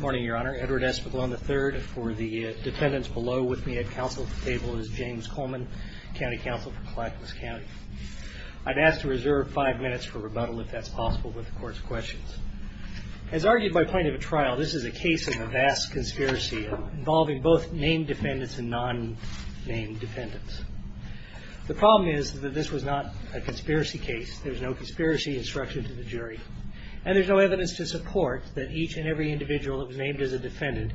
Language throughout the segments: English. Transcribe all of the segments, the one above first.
Morning, Your Honor. Edward Espiglon III for the defendants below with me at counsel at the table is James Coleman, County Counsel for Clackamas County. I'd ask to reserve five minutes for rebuttal if that's possible with the Court's questions. As argued by plaintiff at trial, this is a case of a vast conspiracy involving both named defendants and non-named defendants. The problem is that this was not a conspiracy case. There's no conspiracy instruction to the jury. And there's no evidence to support that each and every individual that was named as a defendant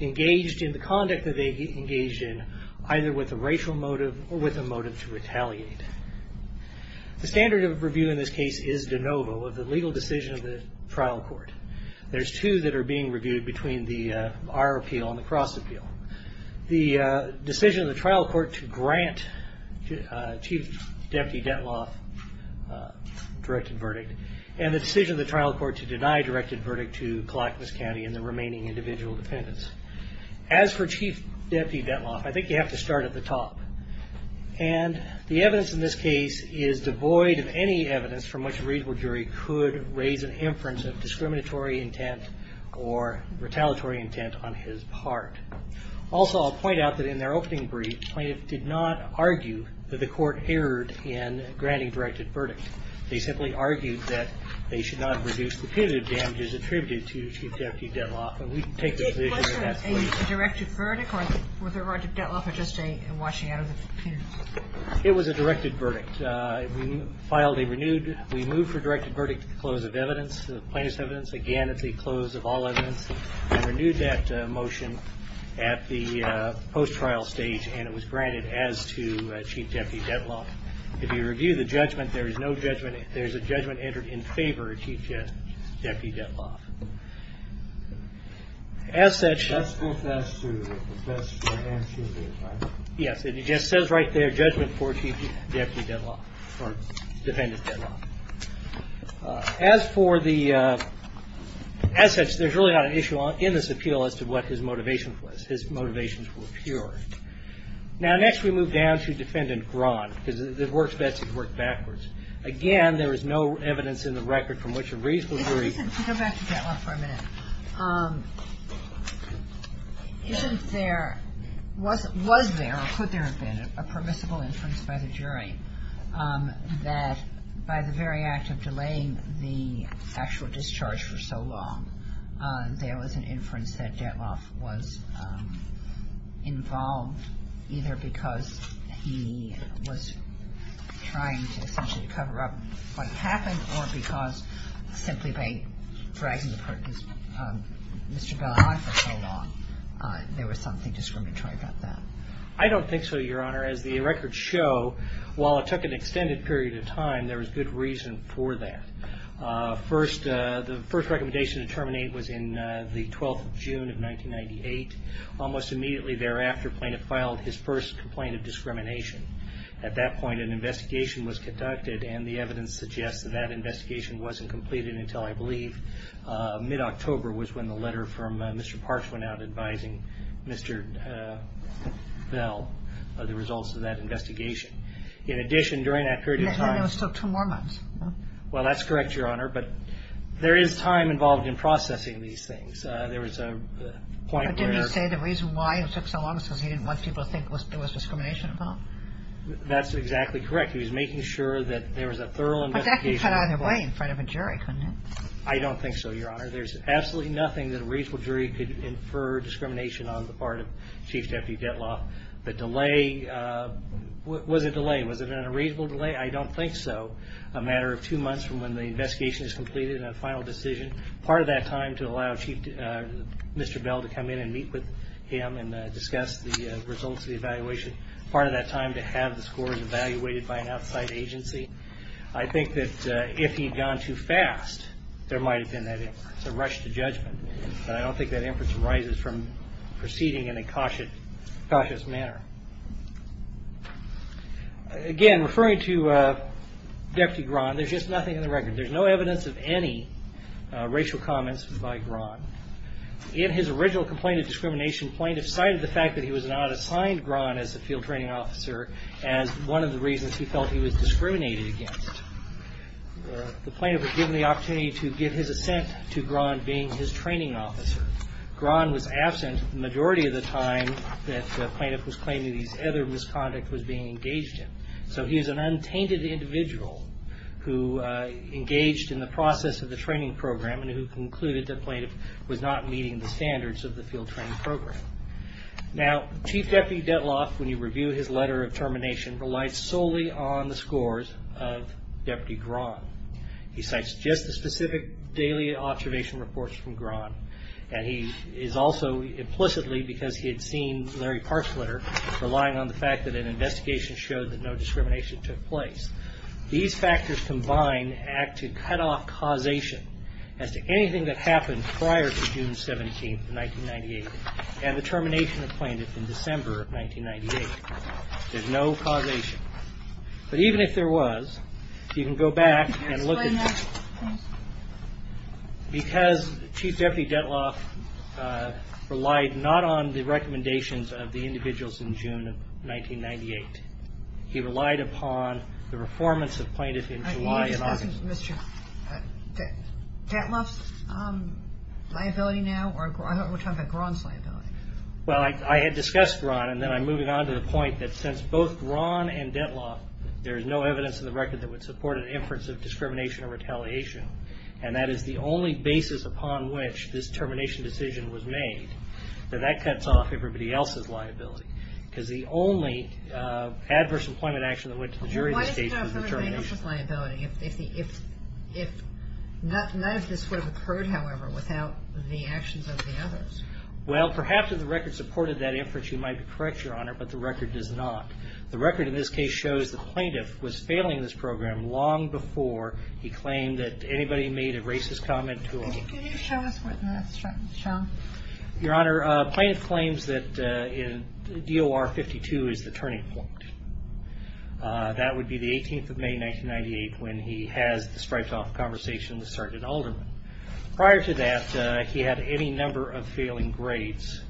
engaged in the conduct that they engaged in, either with a racial motive or with a motive to retaliate. The standard of review in this case is de novo of the legal decision of the trial court. There's two that are being reviewed between our appeal and the cross appeal. The decision of the trial court to grant Chief Deputy Detloff a directed verdict, and the decision of the trial court to deny a directed verdict to Clackamas County and the remaining individual defendants. As for Chief Deputy Detloff, I think you have to start at the top. And the evidence in this case is devoid of any evidence from which a reasonable jury could raise an inference of discriminatory intent or retaliatory intent on his part. Also, I'll point out that in their opening brief, plaintiffs did not argue that the court erred in granting a directed verdict. They simply argued that they should not have reduced the punitive damages attributed to Chief Deputy Detloff. And we take that position at that point. Was there a directed verdict or was there a right to detloff or just a washing out of the punitive damages? It was a directed verdict. We filed a renewed – we moved for a directed verdict to the close of evidence, plaintiff's evidence. Again, it's a close of all evidence. We renewed that motion at the post-trial stage, and it was granted as to Chief Deputy Detloff. If you review the judgment, there is no judgment. There is a judgment entered in favor of Chief Deputy Detloff. As such – That's the best answer, right? Yes. It just says right there, judgment for Chief Deputy Detloff or Defendant Detloff. As for the – as such, there's really not an issue in this appeal as to what his motivation was. His motivations were pure. Now, next we move down to Defendant Grahn, because it works best if you work backwards. Again, there is no evidence in the record from which a reasonable jury – Go back to Detloff for a minute. Isn't there – was there or could there have been a permissible inference by the jury that by the very act of delaying the actual discharge for so long, there was an inference that Detloff was involved, either because he was trying to essentially cover up what happened or because simply by dragging Mr. Bell on for so long, there was something discriminatory about that? I don't think so, Your Honor. As the records show, while it took an extended period of time, there was good reason for that. First – the first recommendation to terminate was in the 12th of June of 1998. Almost immediately thereafter, Plaintiff filed his first complaint of discrimination. At that point, an investigation was conducted, and the evidence suggests that that investigation wasn't completed until, I believe, mid-October was when the letter from Mr. Parks went out advising Mr. Bell of the results of that investigation. In addition, during that period of time – And it took two more months. Well, that's correct, Your Honor, but there is time involved in processing these things. There was a point where – Didn't he say the reason why it took so long was because he didn't want people to think it was discrimination at all? That's exactly correct. He was making sure that there was a thorough investigation – But that could have been done either way in front of a jury, couldn't it? I don't think so, Your Honor. There's absolutely nothing that a reasonable jury could infer discrimination on the part of Chief Deputy Dettlaff. The delay – was it a delay? Was it a reasonable delay? I don't think so. A matter of two months from when the investigation is completed and a final decision, part of that time to allow Mr. Bell to come in and meet with him and discuss the results of the evaluation, part of that time to have the scores evaluated by an outside agency. I think that if he had gone too fast, there might have been a rush to judgment, but I don't think that inference arises from proceeding in a cautious manner. Again, referring to Deputy Grahn, there's just nothing in the record. There's no evidence of any racial comments by Grahn. In his original complaint of discrimination, plaintiffs cited the fact that he was not assigned Grahn as a field training officer as one of the reasons he felt he was discriminated against. The plaintiff was given the opportunity to give his assent to Grahn being his training officer. Grahn was absent the majority of the time that the plaintiff was claiming these other misconduct was being engaged in. So he was an untainted individual who engaged in the process of the training program and who concluded that the plaintiff was not meeting the standards of the field training program. Now, Chief Deputy Detloff, when you review his letter of termination, relies solely on the scores of Deputy Grahn. He cites just the specific daily observation reports from Grahn, and he is also implicitly, because he had seen Larry Park's letter, relying on the fact that an investigation showed that no discrimination took place. These factors combined act to cut off causation as to anything that happened prior to June 17th, 1998. And the termination of plaintiff in December of 1998. There's no causation. But even if there was, you can go back and look at it. Because Chief Deputy Detloff relied not on the recommendations of the individuals in June of 1998. He relied upon the performance of plaintiff in July and August. Detloff's liability now, or we're talking about Grahn's liability? Well, I had discussed Grahn, and then I'm moving on to the point that since both Grahn and Detloff, there's no evidence in the record that would support an inference of discrimination or retaliation, and that is the only basis upon which this termination decision was made, that that cuts off everybody else's liability. Because the only adverse employment action that went to the jury in this case was the termination. None of this would have occurred, however, without the actions of the others. Well, perhaps if the record supported that inference, you might be correct, Your Honor, but the record does not. The record in this case shows the plaintiff was failing this program long before he claimed that anybody made a racist comment to him. Could you show us what that's showing? Your Honor, plaintiff claims that DOR 52 is the turning point. That would be the 18th of May, 1998, when he has the striped-off conversation with Sergeant Alderman. Prior to that, he had any number of failing grades,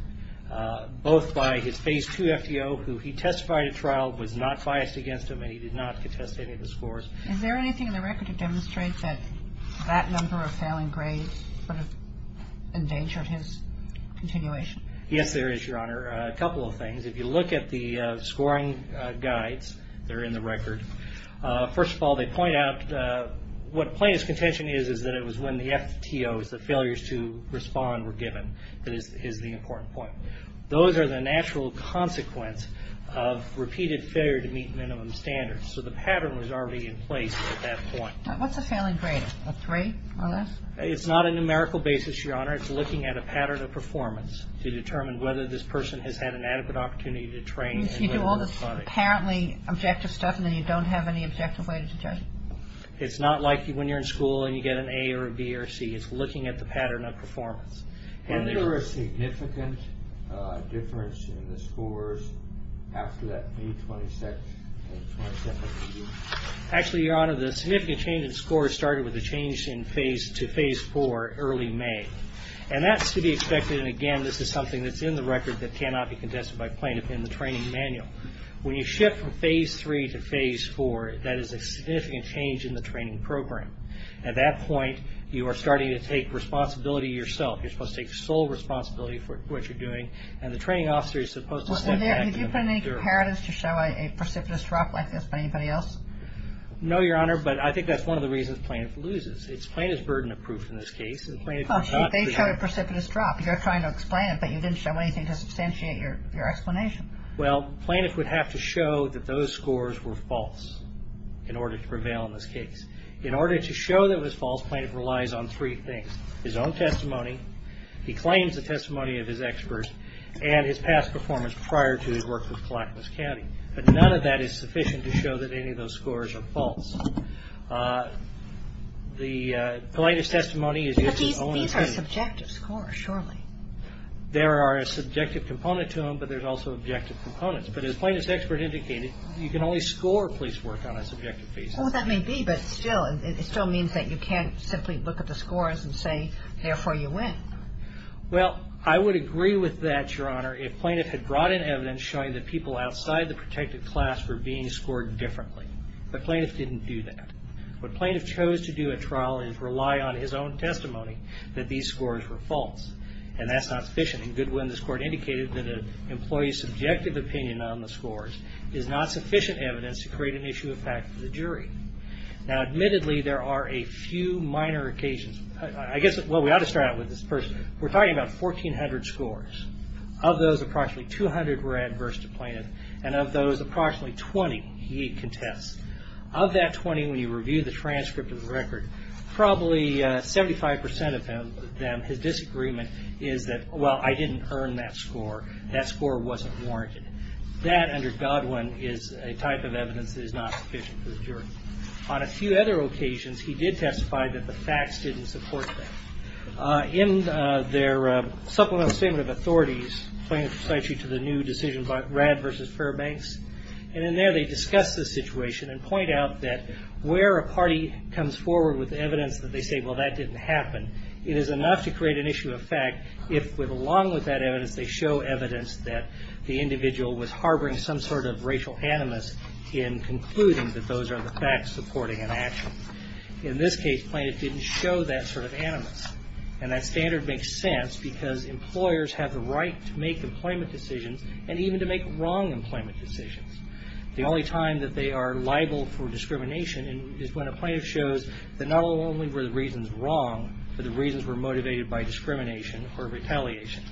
both by his Phase II FTO, who he testified at trial was not biased against him, and he did not contest any of the scores. Is there anything in the record to demonstrate that that number of failing grades sort of endangered his continuation? Yes, there is, Your Honor, a couple of things. If you look at the scoring guides, they're in the record. First of all, they point out what plaintiff's contention is is that it was when the FTOs, the failures to respond, were given. That is the important point. Those are the natural consequence of repeated failure to meet minimum standards. So the pattern was already in place at that point. What's a failing grade, a three or less? It's not a numerical basis, Your Honor. It's looking at a pattern of performance to determine whether this person has had an adequate opportunity to train. You do all this apparently objective stuff, and then you don't have any objective way to judge. It's not like when you're in school and you get an A or a B or a C. It's looking at the pattern of performance. Was there a significant difference in the scores after that May 27th meeting? Actually, Your Honor, the significant change in scores started with a change to Phase 4 early May. And that's to be expected. And again, this is something that's in the record that cannot be contested by plaintiff in the training manual. When you shift from Phase 3 to Phase 4, that is a significant change in the training program. At that point, you are starting to take responsibility yourself. You're supposed to take sole responsibility for what you're doing, and the training officer is supposed to step back. Have you put in any comparatives to show a precipitous drop like this by anybody else? No, Your Honor, but I think that's one of the reasons plaintiff loses. Plaintiff's burden of proof in this case. They showed a precipitous drop. You're trying to explain it, but you didn't show anything to substantiate your explanation. Well, plaintiff would have to show that those scores were false in order to prevail in this case. In order to show that it was false, plaintiff relies on three things. His own testimony, he claims the testimony of his experts, and his past performance prior to his work with Clackamas County. But none of that is sufficient to show that any of those scores are false. The plaintiff's testimony is used as only a proof. But these are subjective scores, surely. There are a subjective component to them, but there's also objective components. But as plaintiff's expert indicated, you can only score police work on a subjective basis. Well, that may be, but still, it still means that you can't simply look at the scores and say, therefore, you win. Well, I would agree with that, Your Honor, if plaintiff had brought in evidence showing that people outside the protected class were being scored differently. But plaintiff didn't do that. What plaintiff chose to do at trial is rely on his own testimony that these scores were false, and that's not sufficient. In Goodwin, this Court indicated that an employee's subjective opinion on the scores is not sufficient evidence to create an issue of fact for the jury. Now, admittedly, there are a few minor occasions. I guess, well, we ought to start out with this person. We're talking about 1,400 scores. Of those, approximately 200 were adverse to plaintiff, and of those, approximately 20 he contests. Of that 20, when you review the transcript of the record, probably 75% of them, his disagreement is that, well, I didn't earn that score. That score wasn't warranted. That, under Goodwin, is a type of evidence that is not sufficient for the jury. On a few other occasions, he did testify that the facts didn't support that. In their supplemental statement of authorities, plaintiff cites you to the new decision by Radd v. Fairbanks, and in there they discuss the situation and point out that where a party comes forward with evidence that they say, well, that didn't happen, it is enough to create an issue of fact if, along with that evidence, they show evidence that the individual was harboring some sort of racial animus in concluding that those are the facts supporting an action. In this case, plaintiff didn't show that sort of animus, and that standard makes sense because employers have the right to make employment decisions and even to make wrong employment decisions. The only time that they are liable for discrimination is when a plaintiff shows that not only were the reasons wrong, but the reasons were motivated by discrimination or retaliation.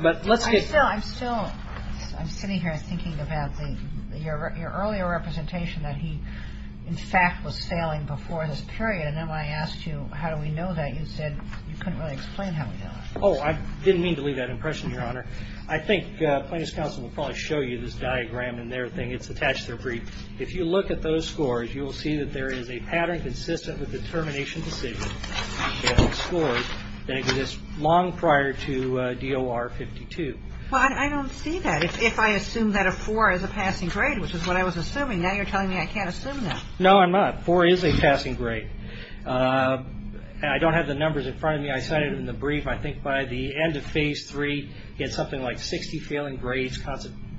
But let's get... I'm sitting here thinking about your earlier representation that he, in fact, was sailing before this period, and then when I asked you how do we know that, you said you couldn't really explain how we know that. Oh, I didn't mean to leave that impression, Your Honor. I think plaintiff's counsel will probably show you this diagram in their thing. It's attached to their brief. If you look at those scores, you will see that there is a pattern consistent with the termination decision, and the scores that exist long prior to DOR 52. But I don't see that. If I assume that a 4 is a passing grade, which is what I was assuming, now you're telling me I can't assume that. No, I'm not. 4 is a passing grade. I don't have the numbers in front of me. I cited in the brief, I think by the end of Phase 3, he had something like 60 failing grades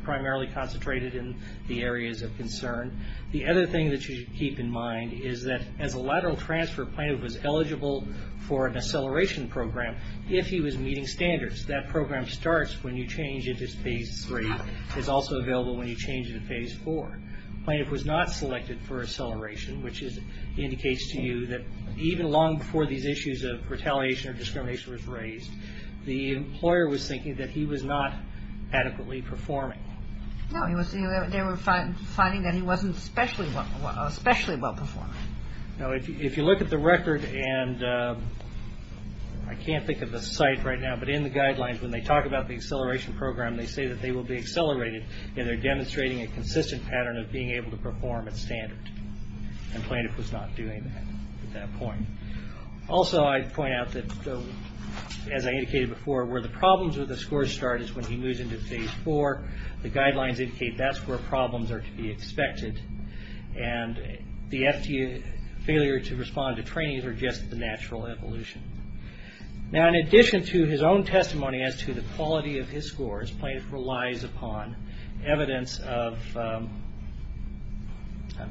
primarily concentrated in the areas of concern. The other thing that you should keep in mind is that as a lateral transfer, plaintiff was eligible for an acceleration program if he was meeting standards. That program starts when you change into Phase 3. It's also available when you change into Phase 4. Plaintiff was not selected for acceleration, which indicates to you that even long before these issues of retaliation or discrimination was raised, the employer was thinking that he was not adequately performing. No, they were finding that he wasn't especially well performing. If you look at the record, and I can't think of the site right now, but in the guidelines when they talk about the acceleration program, they say that they will be accelerated, and they're demonstrating a consistent pattern of being able to perform at standard, and plaintiff was not doing that at that point. Also, I'd point out that, as I indicated before, where the problems with the scores start is when he moves into Phase 4. The guidelines indicate that's where problems are to be expected, and the FDA failure to respond to trainings are just the natural evolution. Now, in addition to his own testimony as to the quality of his scores, plaintiff relies upon evidence of, I'm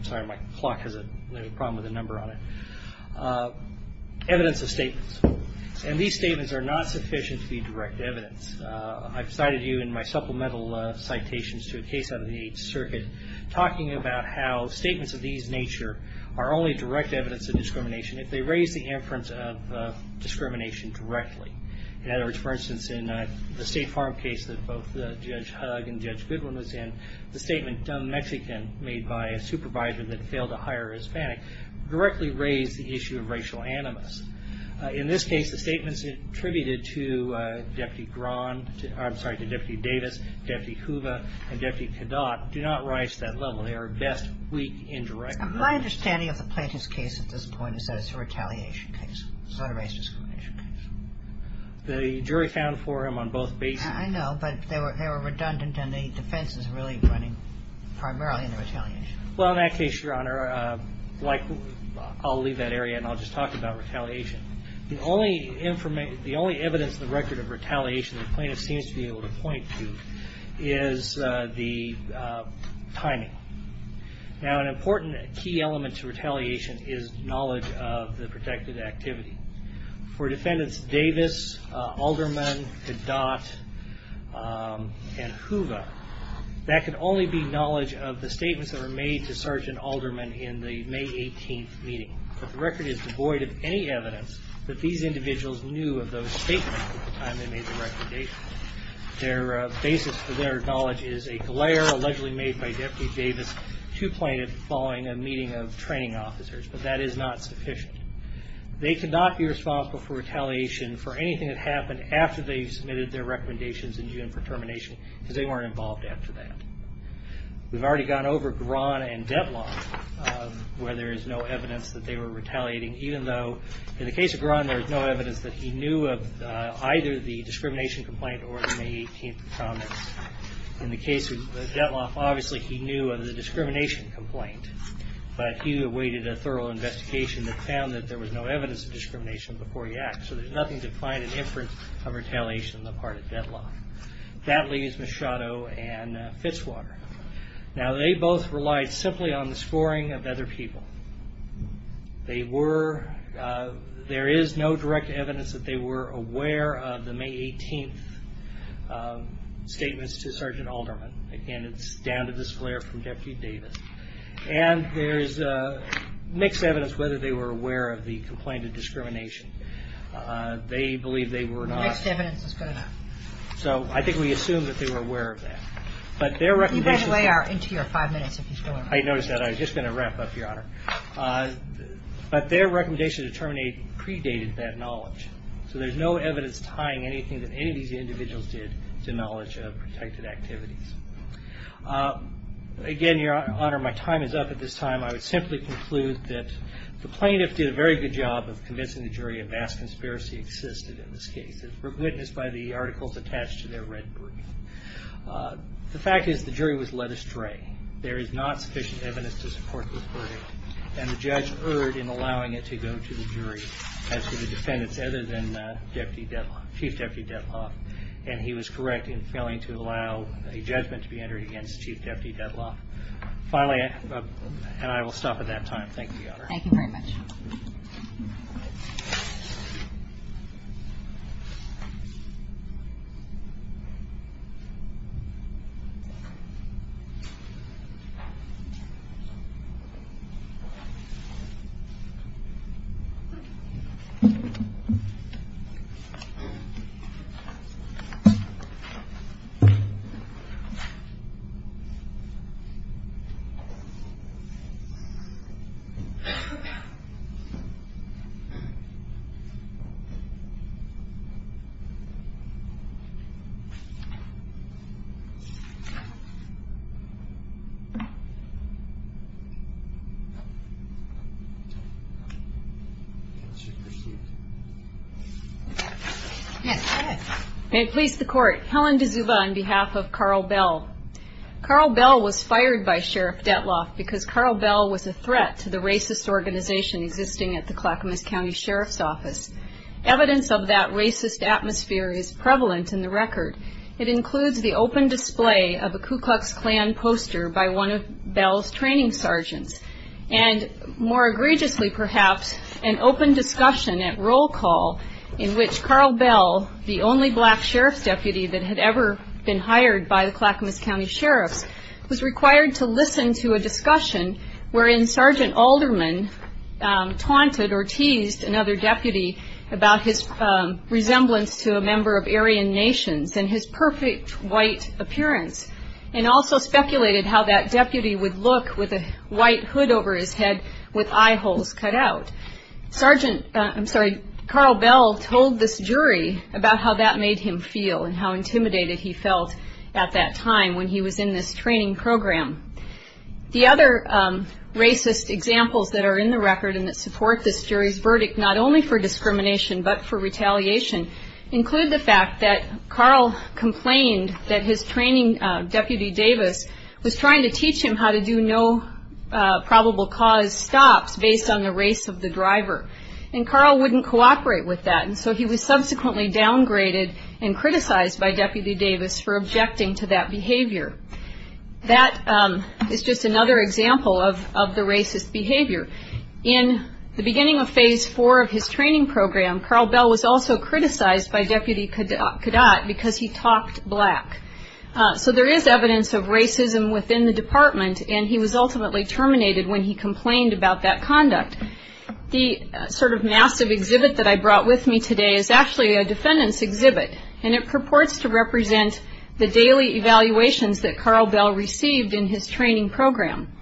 sorry, my clock has a problem with a number on it, evidence of statements, and these statements are not sufficient to be direct evidence. I've cited you in my supplemental citations to a case out of the Eighth Circuit talking about how statements of these nature are only direct evidence of discrimination. If they raise the inference of discrimination directly, for instance, in the State Farm case that both Judge Hugg and Judge Goodwin was in, the statement, dumb Mexican made by a supervisor that failed to hire a Hispanic, directly raised the issue of racial animus. In this case, the statements attributed to Deputy Davis, Deputy Hoover, and Deputy Cadotte do not rise to that level. They are best weak indirect evidence. My understanding of the plaintiff's case at this point is that it's a retaliation case, not a racial discrimination case. The jury found for him on both bases. I know, but they were redundant, and the defense is really running primarily in the retaliation. Well, in that case, Your Honor, I'll leave that area, and I'll just talk about retaliation. The only evidence in the record of retaliation the plaintiff seems to be able to point to is the timing. Now, an important key element to retaliation is knowledge of the protected activity. For defendants Davis, Alderman, Cadotte, and Hoover, that could only be knowledge of the statements that were made to Sergeant Alderman in the May 18th meeting. But the record is devoid of any evidence that these individuals knew of those statements at the time they made the record date. Their basis for their knowledge is a glare allegedly made by Deputy Davis to plaintiff following a meeting of training officers, but that is not sufficient. They could not be responsible for retaliation for anything that happened after they submitted their recommendations in June for termination, because they weren't involved after that. We've already gone over Gron and Devlon, where there is no evidence that they were retaliating, even though in the case of Gron, there is no evidence that he knew of either the discrimination complaint or the May 18th comments. In the case of Devlon, obviously he knew of the discrimination complaint, but he awaited a thorough investigation that found that there was no evidence of discrimination before he acted. So there's nothing to find in inference of retaliation on the part of Devlon. That leaves Machado and Fitzwater. Now, they both relied simply on the scoring of other people. They were – there is no direct evidence that they were aware of the May 18th statements to Sergeant Alderman. Again, it's down to this glare from Deputy Davis. And there's mixed evidence whether they were aware of the complaint of discrimination. They believe they were not. The mixed evidence is good enough. So I think we assume that they were aware of that. But their recommendations – I noticed that. I was just going to wrap up, Your Honor. But their recommendation to terminate predated that knowledge. So there's no evidence tying anything that any of these individuals did to knowledge of protected activities. Again, Your Honor, my time is up at this time. I would simply conclude that the plaintiff did a very good job of convincing the jury a vast conspiracy existed in this case. It was witnessed by the articles attached to their red brief. The fact is the jury was led astray. There is not sufficient evidence to support this verdict. And the judge erred in allowing it to go to the jury as to the defendants other than Chief Deputy Detloff. And he was correct in failing to allow a judgment to be entered against Chief Deputy Detloff. Finally – and I will stop at that time. Thank you, Your Honor. Thank you very much. Thank you. May it please the Court. Helen D'Souza on behalf of Carl Bell. Carl Bell was fired by Sheriff Detloff because Carl Bell was a threat to the racist organization existing at the Clackamas County Sheriff's Office. Evidence of that racist atmosphere is prevalent in the record. It includes the open display of a Ku Klux Klan poster by one of Bell's training sergeants. And more egregiously, perhaps, an open discussion at roll call in which Carl Bell, the only black sheriff's deputy that had ever been hired by the Clackamas County Sheriff's, was required to listen to a discussion wherein Sergeant Alderman taunted or teased another deputy about his resemblance to a member of Aryan nations and his perfect white appearance and also speculated how that deputy would look with a white hood over his head with eye holes cut out. Sergeant – I'm sorry – Carl Bell told this jury about how that made him feel and how intimidated he felt at that time when he was in this training program. The other racist examples that are in the record and that support this jury's verdict, not only for discrimination but for retaliation, include the fact that Carl complained that his training deputy, Davis, was trying to teach him how to do no probable cause stops based on the race of the driver. And Carl wouldn't cooperate with that, and so he was subsequently downgraded and criticized by Deputy Davis for objecting to that behavior. That is just another example of the racist behavior. In the beginning of phase four of his training program, Carl Bell was also criticized by Deputy Cadat because he talked black. So there is evidence of racism within the department, and he was ultimately terminated when he complained about that conduct. The sort of massive exhibit that I brought with me today is actually a defendant's exhibit, and it purports to represent the daily evaluations that Carl Bell received in his training program.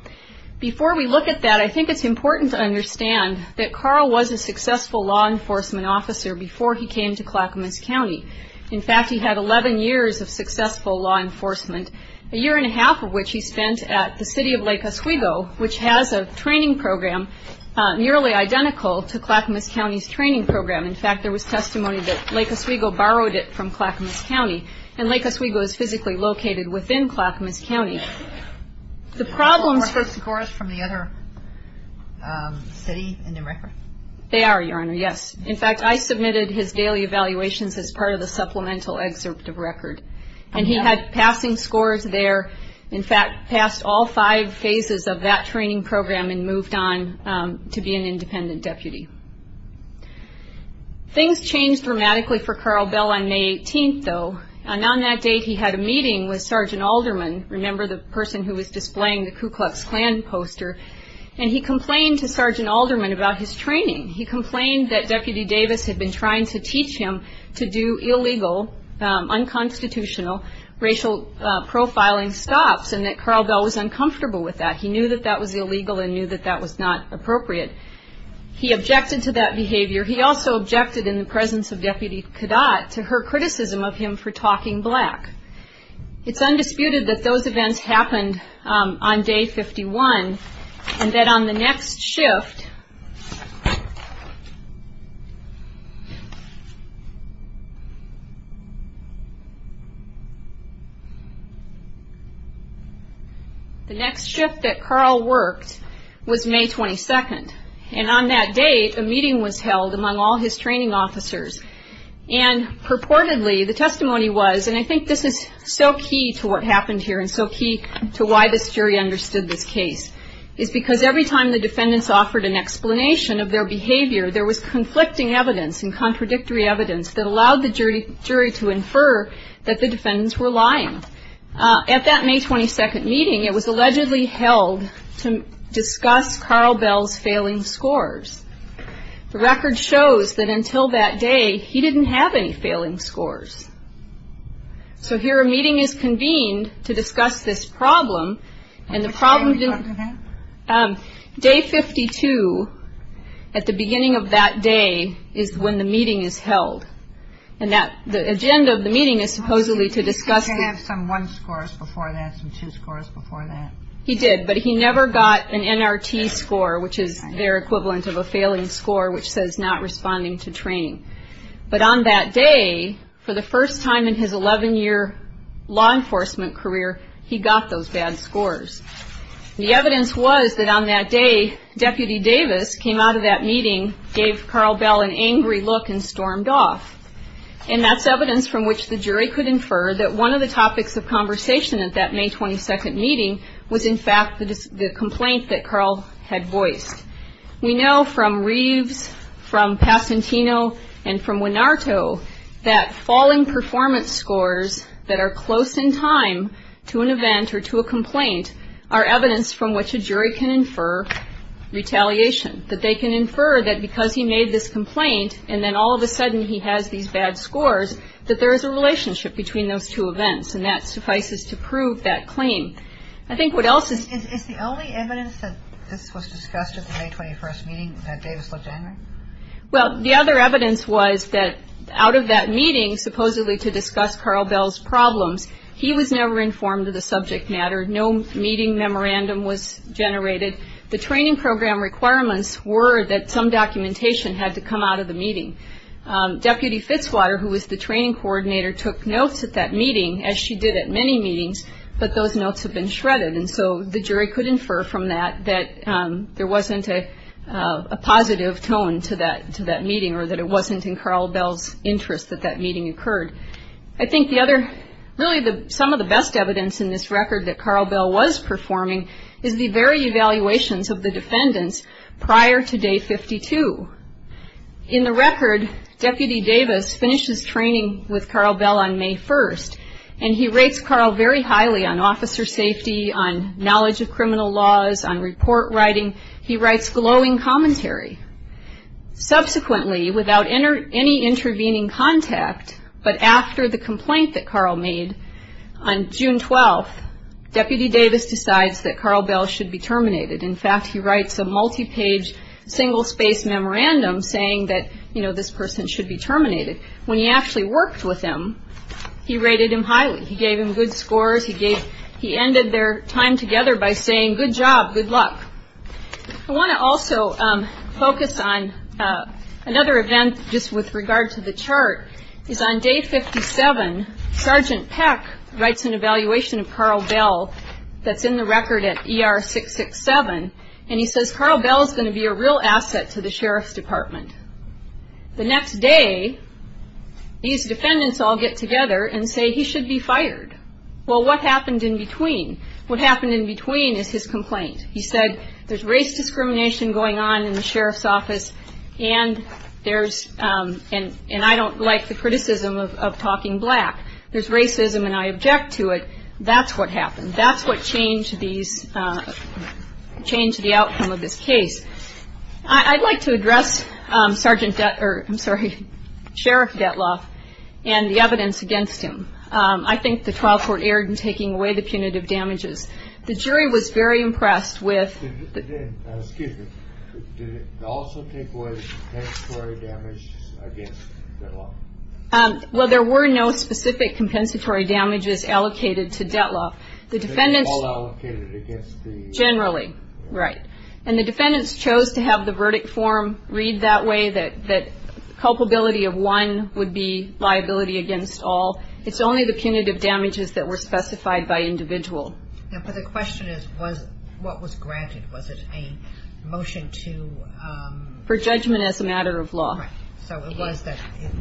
Before we look at that, I think it's important to understand that Carl was a successful law enforcement officer before he came to Clackamas County. In fact, he had 11 years of successful law enforcement, a year and a half of which he spent at the city of Lake Oswego, which has a training program nearly identical to Clackamas County's training program. In fact, there was testimony that Lake Oswego borrowed it from Clackamas County, and Lake Oswego is physically located within Clackamas County. The problem- Are those scores from the other city in the record? They are, Your Honor, yes. In fact, I submitted his daily evaluations as part of the supplemental excerpt of record, and he had passing scores there. In fact, passed all five phases of that training program and moved on to be an independent deputy. Things changed dramatically for Carl Bell on May 18th, though, and on that date he had a meeting with Sergeant Alderman, remember the person who was displaying the Ku Klux Klan poster, and he complained to Sergeant Alderman about his training. He complained that Deputy Davis had been trying to teach him to do illegal, unconstitutional racial profiling stops and that Carl Bell was uncomfortable with that. He knew that that was illegal and knew that that was not appropriate. He objected to that behavior. He also objected in the presence of Deputy Kadat to her criticism of him for talking black. It's undisputed that those events happened on Day 51, and that on the next shift- The next shift that Carl worked was May 22nd, and on that date a meeting was held among all his training officers, and purportedly the testimony was, and I think this is so key to what happened here and so key to why this jury understood this case, is because every time the defendants offered an explanation of their behavior, there was conflicting evidence and contradictory evidence that allowed the jury to infer that the defendants were lying. At that May 22nd meeting, it was allegedly held to discuss Carl Bell's failing scores. The record shows that until that day, he didn't have any failing scores. So here a meeting is convened to discuss this problem, and the problem- Day 52, at the beginning of that day, is when the meeting is held, and the agenda of the meeting is supposedly to discuss- He did have some one scores before that, some two scores before that. He did, but he never got an NRT score, which is their equivalent of a failing score, which says not responding to training. But on that day, for the first time in his 11-year law enforcement career, he got those bad scores. The evidence was that on that day, Deputy Davis came out of that meeting, gave Carl Bell an angry look, and stormed off. And that's evidence from which the jury could infer that one of the topics of conversation at that May 22nd meeting was in fact the complaint that Carl had voiced. We know from Reeves, from Passantino, and from Winarto, that falling performance scores that are close in time to an event or to a complaint are evidence from which a jury can infer retaliation, that they can infer that because he made this complaint, and then all of a sudden he has these bad scores, that there is a relationship between those two events, and that suffices to prove that claim. I think what else is... Is the only evidence that this was discussed at the May 21st meeting that Davis looked angry? Well, the other evidence was that out of that meeting, supposedly to discuss Carl Bell's problems, he was never informed of the subject matter. No meeting memorandum was generated. Deputy Fitzwater, who was the training coordinator, took notes at that meeting, as she did at many meetings, but those notes have been shredded. And so the jury could infer from that that there wasn't a positive tone to that meeting, or that it wasn't in Carl Bell's interest that that meeting occurred. I think the other... Really some of the best evidence in this record that Carl Bell was performing is the very evaluations of the defendants prior to Day 52. In the record, Deputy Davis finishes training with Carl Bell on May 1st, and he rates Carl very highly on officer safety, on knowledge of criminal laws, on report writing. He writes glowing commentary. Subsequently, without any intervening contact, but after the complaint that Carl made on June 12th, Deputy Davis decides that Carl Bell should be terminated. In fact, he writes a multi-page, single-space memorandum saying that, you know, this person should be terminated. When he actually worked with him, he rated him highly. He gave him good scores. He ended their time together by saying, good job, good luck. I want to also focus on another event just with regard to the chart, is on Day 57, Sergeant Peck writes an evaluation of Carl Bell that's in the record at ER 667, and he says Carl Bell is going to be a real asset to the sheriff's department. The next day, these defendants all get together and say he should be fired. Well, what happened in between? What happened in between is his complaint. He said, there's race discrimination going on in the sheriff's office, and I don't like the criticism of talking black. There's racism, and I object to it. That's what happened. That's what changed the outcome of this case. I'd like to address Sheriff Detloff and the evidence against him. I think the trial court erred in taking away the punitive damages. The jury was very impressed with- Excuse me. Did it also take away the compensatory damages against Detloff? Well, there were no specific compensatory damages allocated to Detloff. The defendants- They were all allocated against the- Generally, right. And the defendants chose to have the verdict form read that way, that culpability of one would be liability against all. It's only the punitive damages that were specified by individual. But the question is, what was granted? Was it a motion to- For judgment as a matter of law. So it was that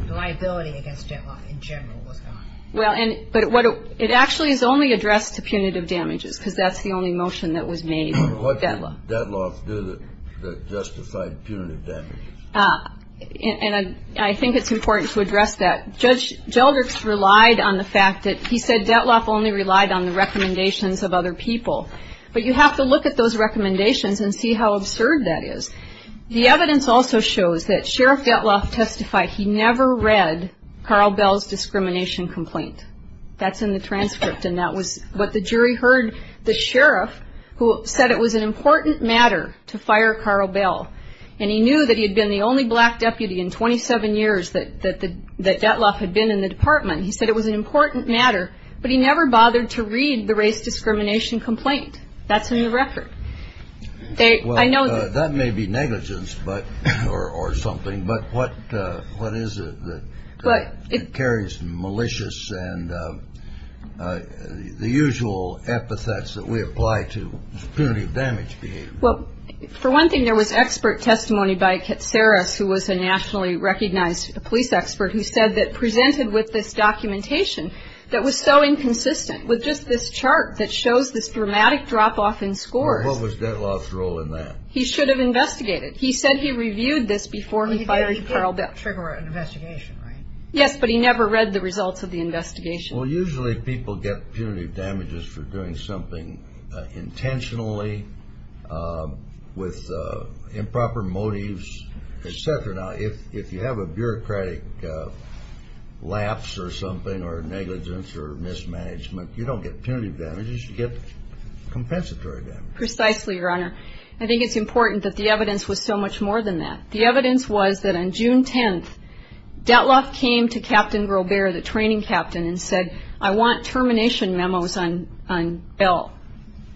liability against Detloff in general was gone. Well, but it actually is only addressed to punitive damages because that's the only motion that was made for Detloff. What did Detloff do that justified punitive damages? And I think it's important to address that. Judge Gelderk's relied on the fact that he said Detloff only relied on the recommendations of other people. But you have to look at those recommendations and see how absurd that is. The evidence also shows that Sheriff Detloff testified he never read Carl Bell's discrimination complaint. That's in the transcript, and that was what the jury heard the sheriff, who said it was an important matter to fire Carl Bell. And he knew that he had been the only black deputy in 27 years that Detloff had been in the department. He said it was an important matter, but he never bothered to read the race discrimination complaint. That's in the record. Well, that may be negligence or something, but what is it that carries malicious and the usual epithets that we apply to punitive damage behavior? Well, for one thing, there was expert testimony by Katsaras, who was a nationally recognized police expert who said that presented with this documentation that was so inconsistent with just this chart that shows this dramatic drop-off in scores. What was Detloff's role in that? He should have investigated. He said he reviewed this before he fired Carl Bell. Well, he did trigger an investigation, right? Yes, but he never read the results of the investigation. Well, usually people get punitive damages for doing something intentionally with improper motives, et cetera. Now, if you have a bureaucratic lapse or something or negligence or mismanagement, you don't get punitive damages, you get compensatory damages. Precisely, Your Honor. I think it's important that the evidence was so much more than that. The evidence was that on June 10th, Detloff came to Captain Grobare, the training captain, and said, I want termination memos on Bell.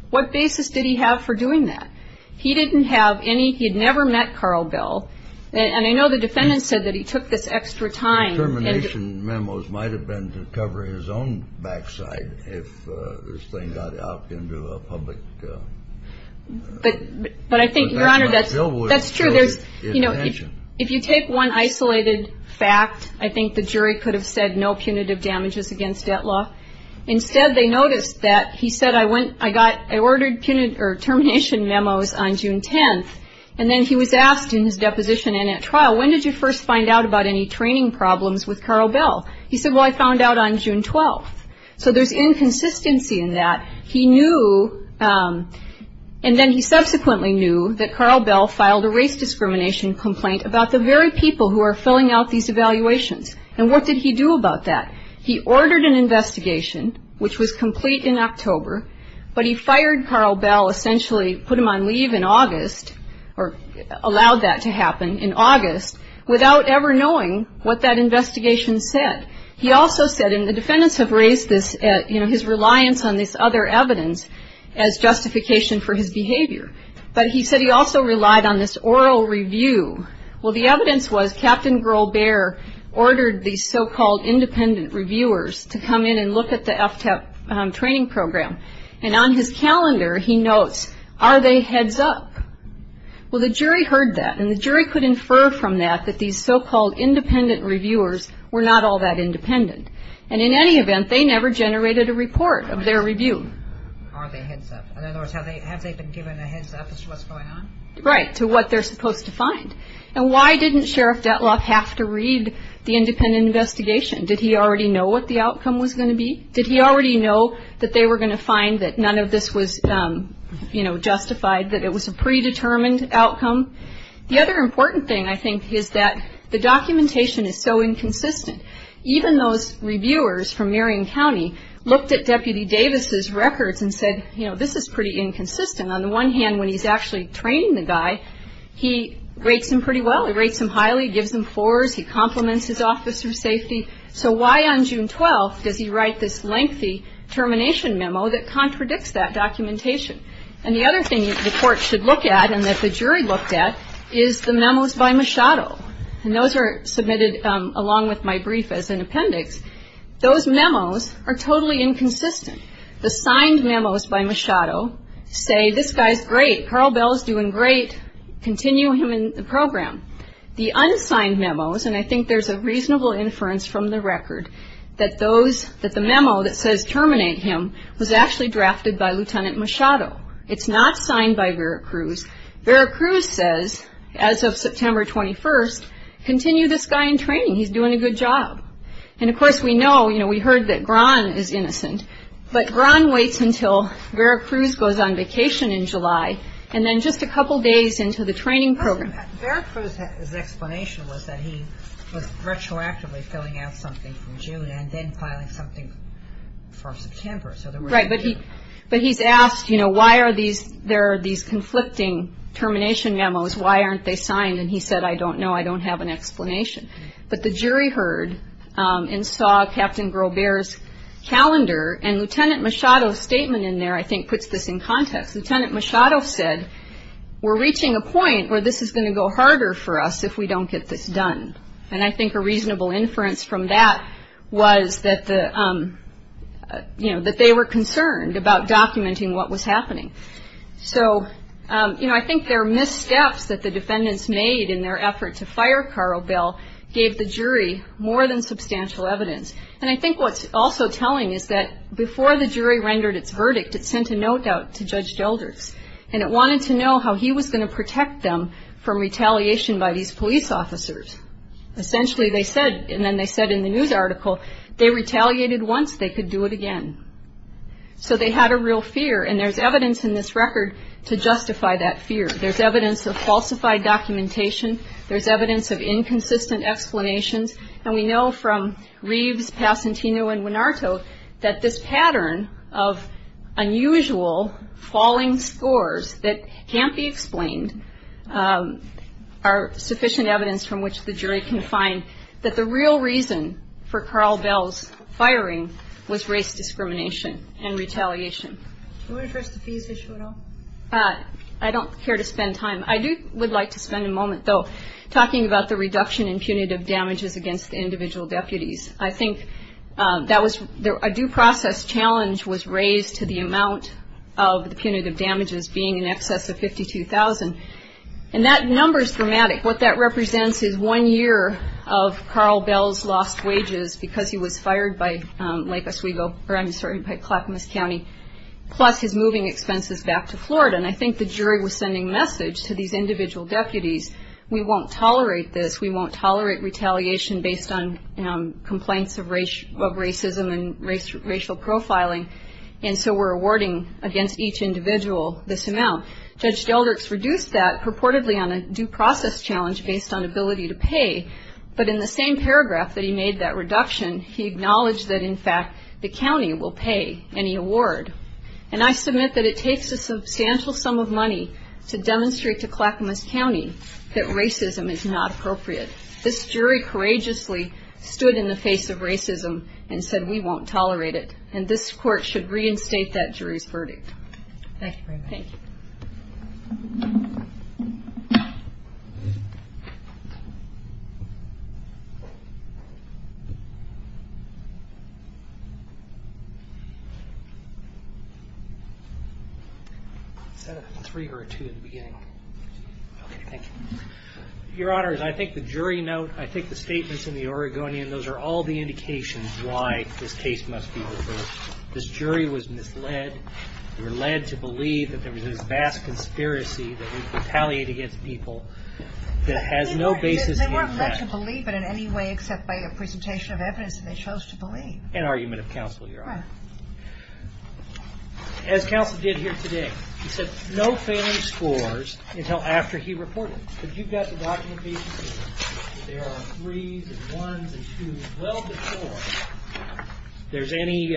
What basis did he have for doing that? He didn't have any. He had never met Carl Bell. And I know the defendant said that he took this extra time. Termination memos might have been to cover his own backside if this thing got out into a public. But I think, Your Honor, that's true. If you take one isolated fact, I think the jury could have said no punitive damages against Detloff. Instead, they noticed that he said, I ordered termination memos on June 10th. And then he was asked in his deposition and at trial, when did you first find out about any training problems with Carl Bell? He said, well, I found out on June 12th. So there's inconsistency in that. He knew, and then he subsequently knew, that Carl Bell filed a race discrimination complaint about the very people who are filling out these evaluations. And what did he do about that? He ordered an investigation, which was complete in October, but he fired Carl Bell, essentially put him on leave in August, or allowed that to happen in August, without ever knowing what that investigation said. He also said, and the defendants have raised this, you know, his reliance on this other evidence as justification for his behavior. But he said he also relied on this oral review. Well, the evidence was Captain Grohl-Behr ordered these so-called independent reviewers to come in and look at the FTEP training program. And on his calendar, he notes, are they heads up? Well, the jury heard that, and the jury could infer from that that these so-called independent reviewers were not all that independent. And in any event, they never generated a report of their review. Are they heads up? In other words, have they been given a heads up as to what's going on? Right, to what they're supposed to find. And why didn't Sheriff Detloff have to read the independent investigation? Did he already know what the outcome was going to be? Did he already know that they were going to find that none of this was, you know, justified, that it was a predetermined outcome? The other important thing, I think, is that the documentation is so inconsistent. Even those reviewers from Marion County looked at Deputy Davis' records and said, you know, this is pretty inconsistent. On the one hand, when he's actually training the guy, he rates him pretty well. He rates him highly, gives him floors, he compliments his officer of safety. So why on June 12th does he write this lengthy termination memo that contradicts that documentation? And the other thing the court should look at and that the jury looked at is the memos by Machado. And those are submitted along with my brief as an appendix. Those memos are totally inconsistent. The signed memos by Machado say, this guy's great, Carl Bell's doing great, continue him in the program. The unsigned memos, and I think there's a reasonable inference from the record, that the memo that says terminate him was actually drafted by Lieutenant Machado. It's not signed by Vera Cruz. Vera Cruz says, as of September 21st, continue this guy in training. He's doing a good job. And, of course, we know, you know, we heard that Grahn is innocent. But Grahn waits until Vera Cruz goes on vacation in July, and then just a couple days into the training program. Vera Cruz's explanation was that he was retroactively filling out something from June and then filing something for September. Right, but he's asked, you know, why are these conflicting termination memos? Why aren't they signed? And he said, I don't know. I don't have an explanation. But the jury heard and saw Captain Grobear's calendar, and Lieutenant Machado's statement in there, I think, puts this in context. Lieutenant Machado said, we're reaching a point where this is going to go harder for us if we don't get this done. And I think a reasonable inference from that was that the, you know, that they were concerned about documenting what was happening. So, you know, I think there are missteps that the defendants made in their effort to fire Carl Bell, gave the jury more than substantial evidence. And I think what's also telling is that before the jury rendered its verdict, it sent a note out to Judge Gelders, and it wanted to know how he was going to protect them from retaliation by these police officers. Essentially, they said, and then they said in the news article, they retaliated once, they could do it again. So they had a real fear, and there's evidence in this record to justify that fear. There's evidence of falsified documentation. There's evidence of inconsistent explanations. And we know from Reeves, Passantino, and Winarto, that this pattern of unusual falling scores that can't be explained are sufficient evidence from which the jury can find that the real reason for Carl Bell's firing was race discrimination and retaliation. Do you want to address the fees issue at all? I don't care to spend time. I do would like to spend a moment, though, talking about the reduction in punitive damages against the individual deputies. I think that was a due process challenge was raised to the amount of the punitive damages being in excess of $52,000. And that number is dramatic. What that represents is one year of Carl Bell's lost wages because he was fired by Lake Oswego, or I'm sorry, by Clackamas County, plus his moving expenses back to Florida. And I think the jury was sending a message to these individual deputies, we won't tolerate this. We won't tolerate retaliation based on complaints of racism and racial profiling. And so we're awarding against each individual this amount. Judge Deldricks reduced that purportedly on a due process challenge based on ability to pay. But in the same paragraph that he made that reduction, he acknowledged that, in fact, the county will pay any award. And I submit that it takes a substantial sum of money to demonstrate to Clackamas County that racism is not appropriate. This jury courageously stood in the face of racism and said, we won't tolerate it. And this court should reinstate that jury's verdict. Thank you very much. Thank you. Is that a three or a two in the beginning? Two. Okay, thank you. Your Honors, I think the jury note, I think the statements in the Oregonian, those are all the indications why this case must be referred. This jury was misled. They were led to believe that there was this vast conspiracy that retaliated against people that has no basis in fact. They weren't led to believe it in any way except by a presentation of evidence, and they chose to believe. An argument of counsel, Your Honor. Right. As counsel did here today, he said no failing scores until after he reported. But you've got the documentation that there are threes and ones and twos well before there's any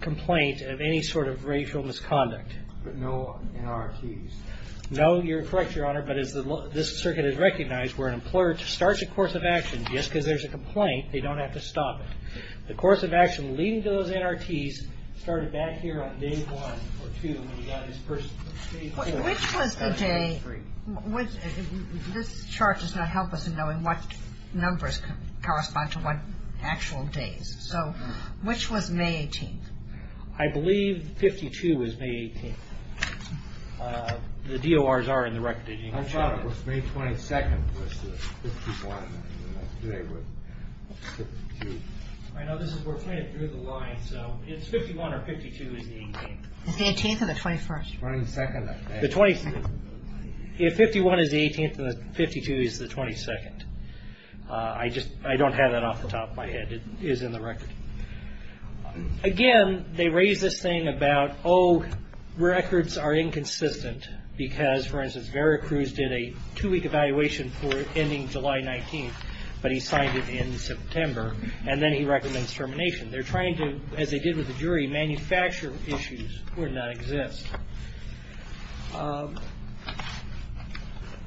complaint of any sort of racial misconduct. But no NRTs. No, you're correct, Your Honor, but this circuit is recognized where an employer starts a course of action, just because there's a complaint, they don't have to stop it. The course of action leading to those NRTs started back here on day one or two, Which was the day? This chart does not help us in knowing what numbers correspond to what actual days. So which was May 18th? I believe 52 was May 18th. The DORs are in the record. I thought it was May 22nd was the 51. I know this is, we're playing it through the lines, so it's 51 or 52 is the 18th. It's the 18th or the 21st? The 22nd. If 51 is the 18th and the 52 is the 22nd. I just, I don't have that off the top of my head. It is in the record. Again, they raise this thing about, oh, records are inconsistent because, for instance, Vera Cruz did a two-week evaluation for ending July 19th, but he signed it in September, and then he recommends termination. They're trying to, as they did with the jury, manufacture issues would not exist.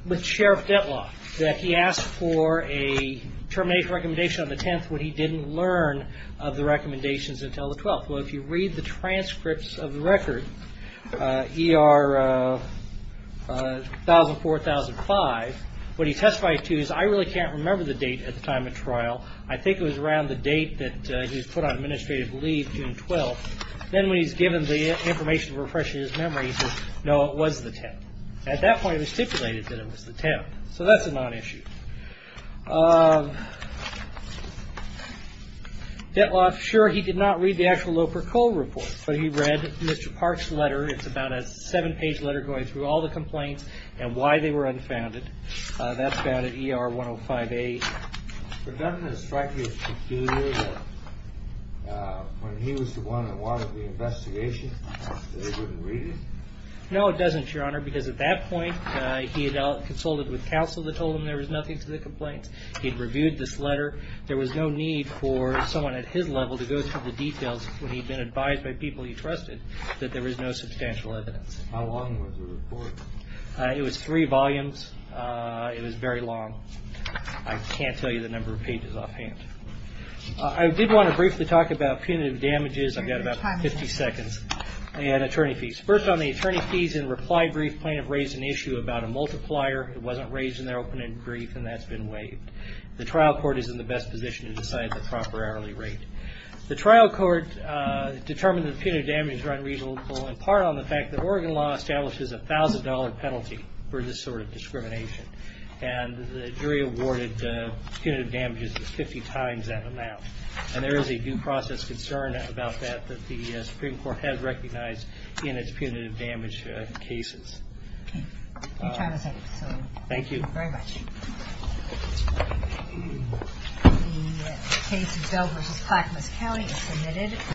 With Sheriff Dettlaff, that he asked for a termination recommendation on the 10th when he didn't learn of the recommendations until the 12th. Well, if you read the transcripts of the record, ER 1004, 1005, what he testified to is, I really can't remember the date at the time of trial. I think it was around the date that he was put on administrative leave, June 12th. Then when he's given the information to refresh his memory, he says, no, it was the 10th. At that point, it was stipulated that it was the 10th, so that's a non-issue. Dettlaff, sure, he did not read the actual Loper-Cole report, but he read Mr. Park's letter. It's about a seven-page letter going through all the complaints and why they were unfounded. That's about it, ER 105A. But doesn't it strike you as peculiar that when he was the one that wanted the investigation, they wouldn't read it? No, it doesn't, Your Honor, because at that point, he had consulted with counsel that told him there was nothing to the complaints. He'd reviewed this letter. There was no need for someone at his level to go through the details when he'd been advised by people he trusted that there was no substantial evidence. How long was the report? It was three volumes. It was very long. I can't tell you the number of pages offhand. I did want to briefly talk about punitive damages. I've got about 50 seconds. And attorney fees. First on the attorney fees and reply brief, plaintiff raised an issue about a multiplier. It wasn't raised in their open-ended brief, and that's been waived. The trial court is in the best position to decide the proper hourly rate. The trial court determined that punitive damages were unreasonable in part on the fact that Oregon law establishes a $1,000 penalty for this sort of discrimination. And the jury awarded punitive damages 50 times that amount. And there is a due process concern about that that the Supreme Court has recognized in its punitive damage cases. Okay. Your time is up. Thank you. Thank you very much. The case of Dell v. Clackamas County is submitted.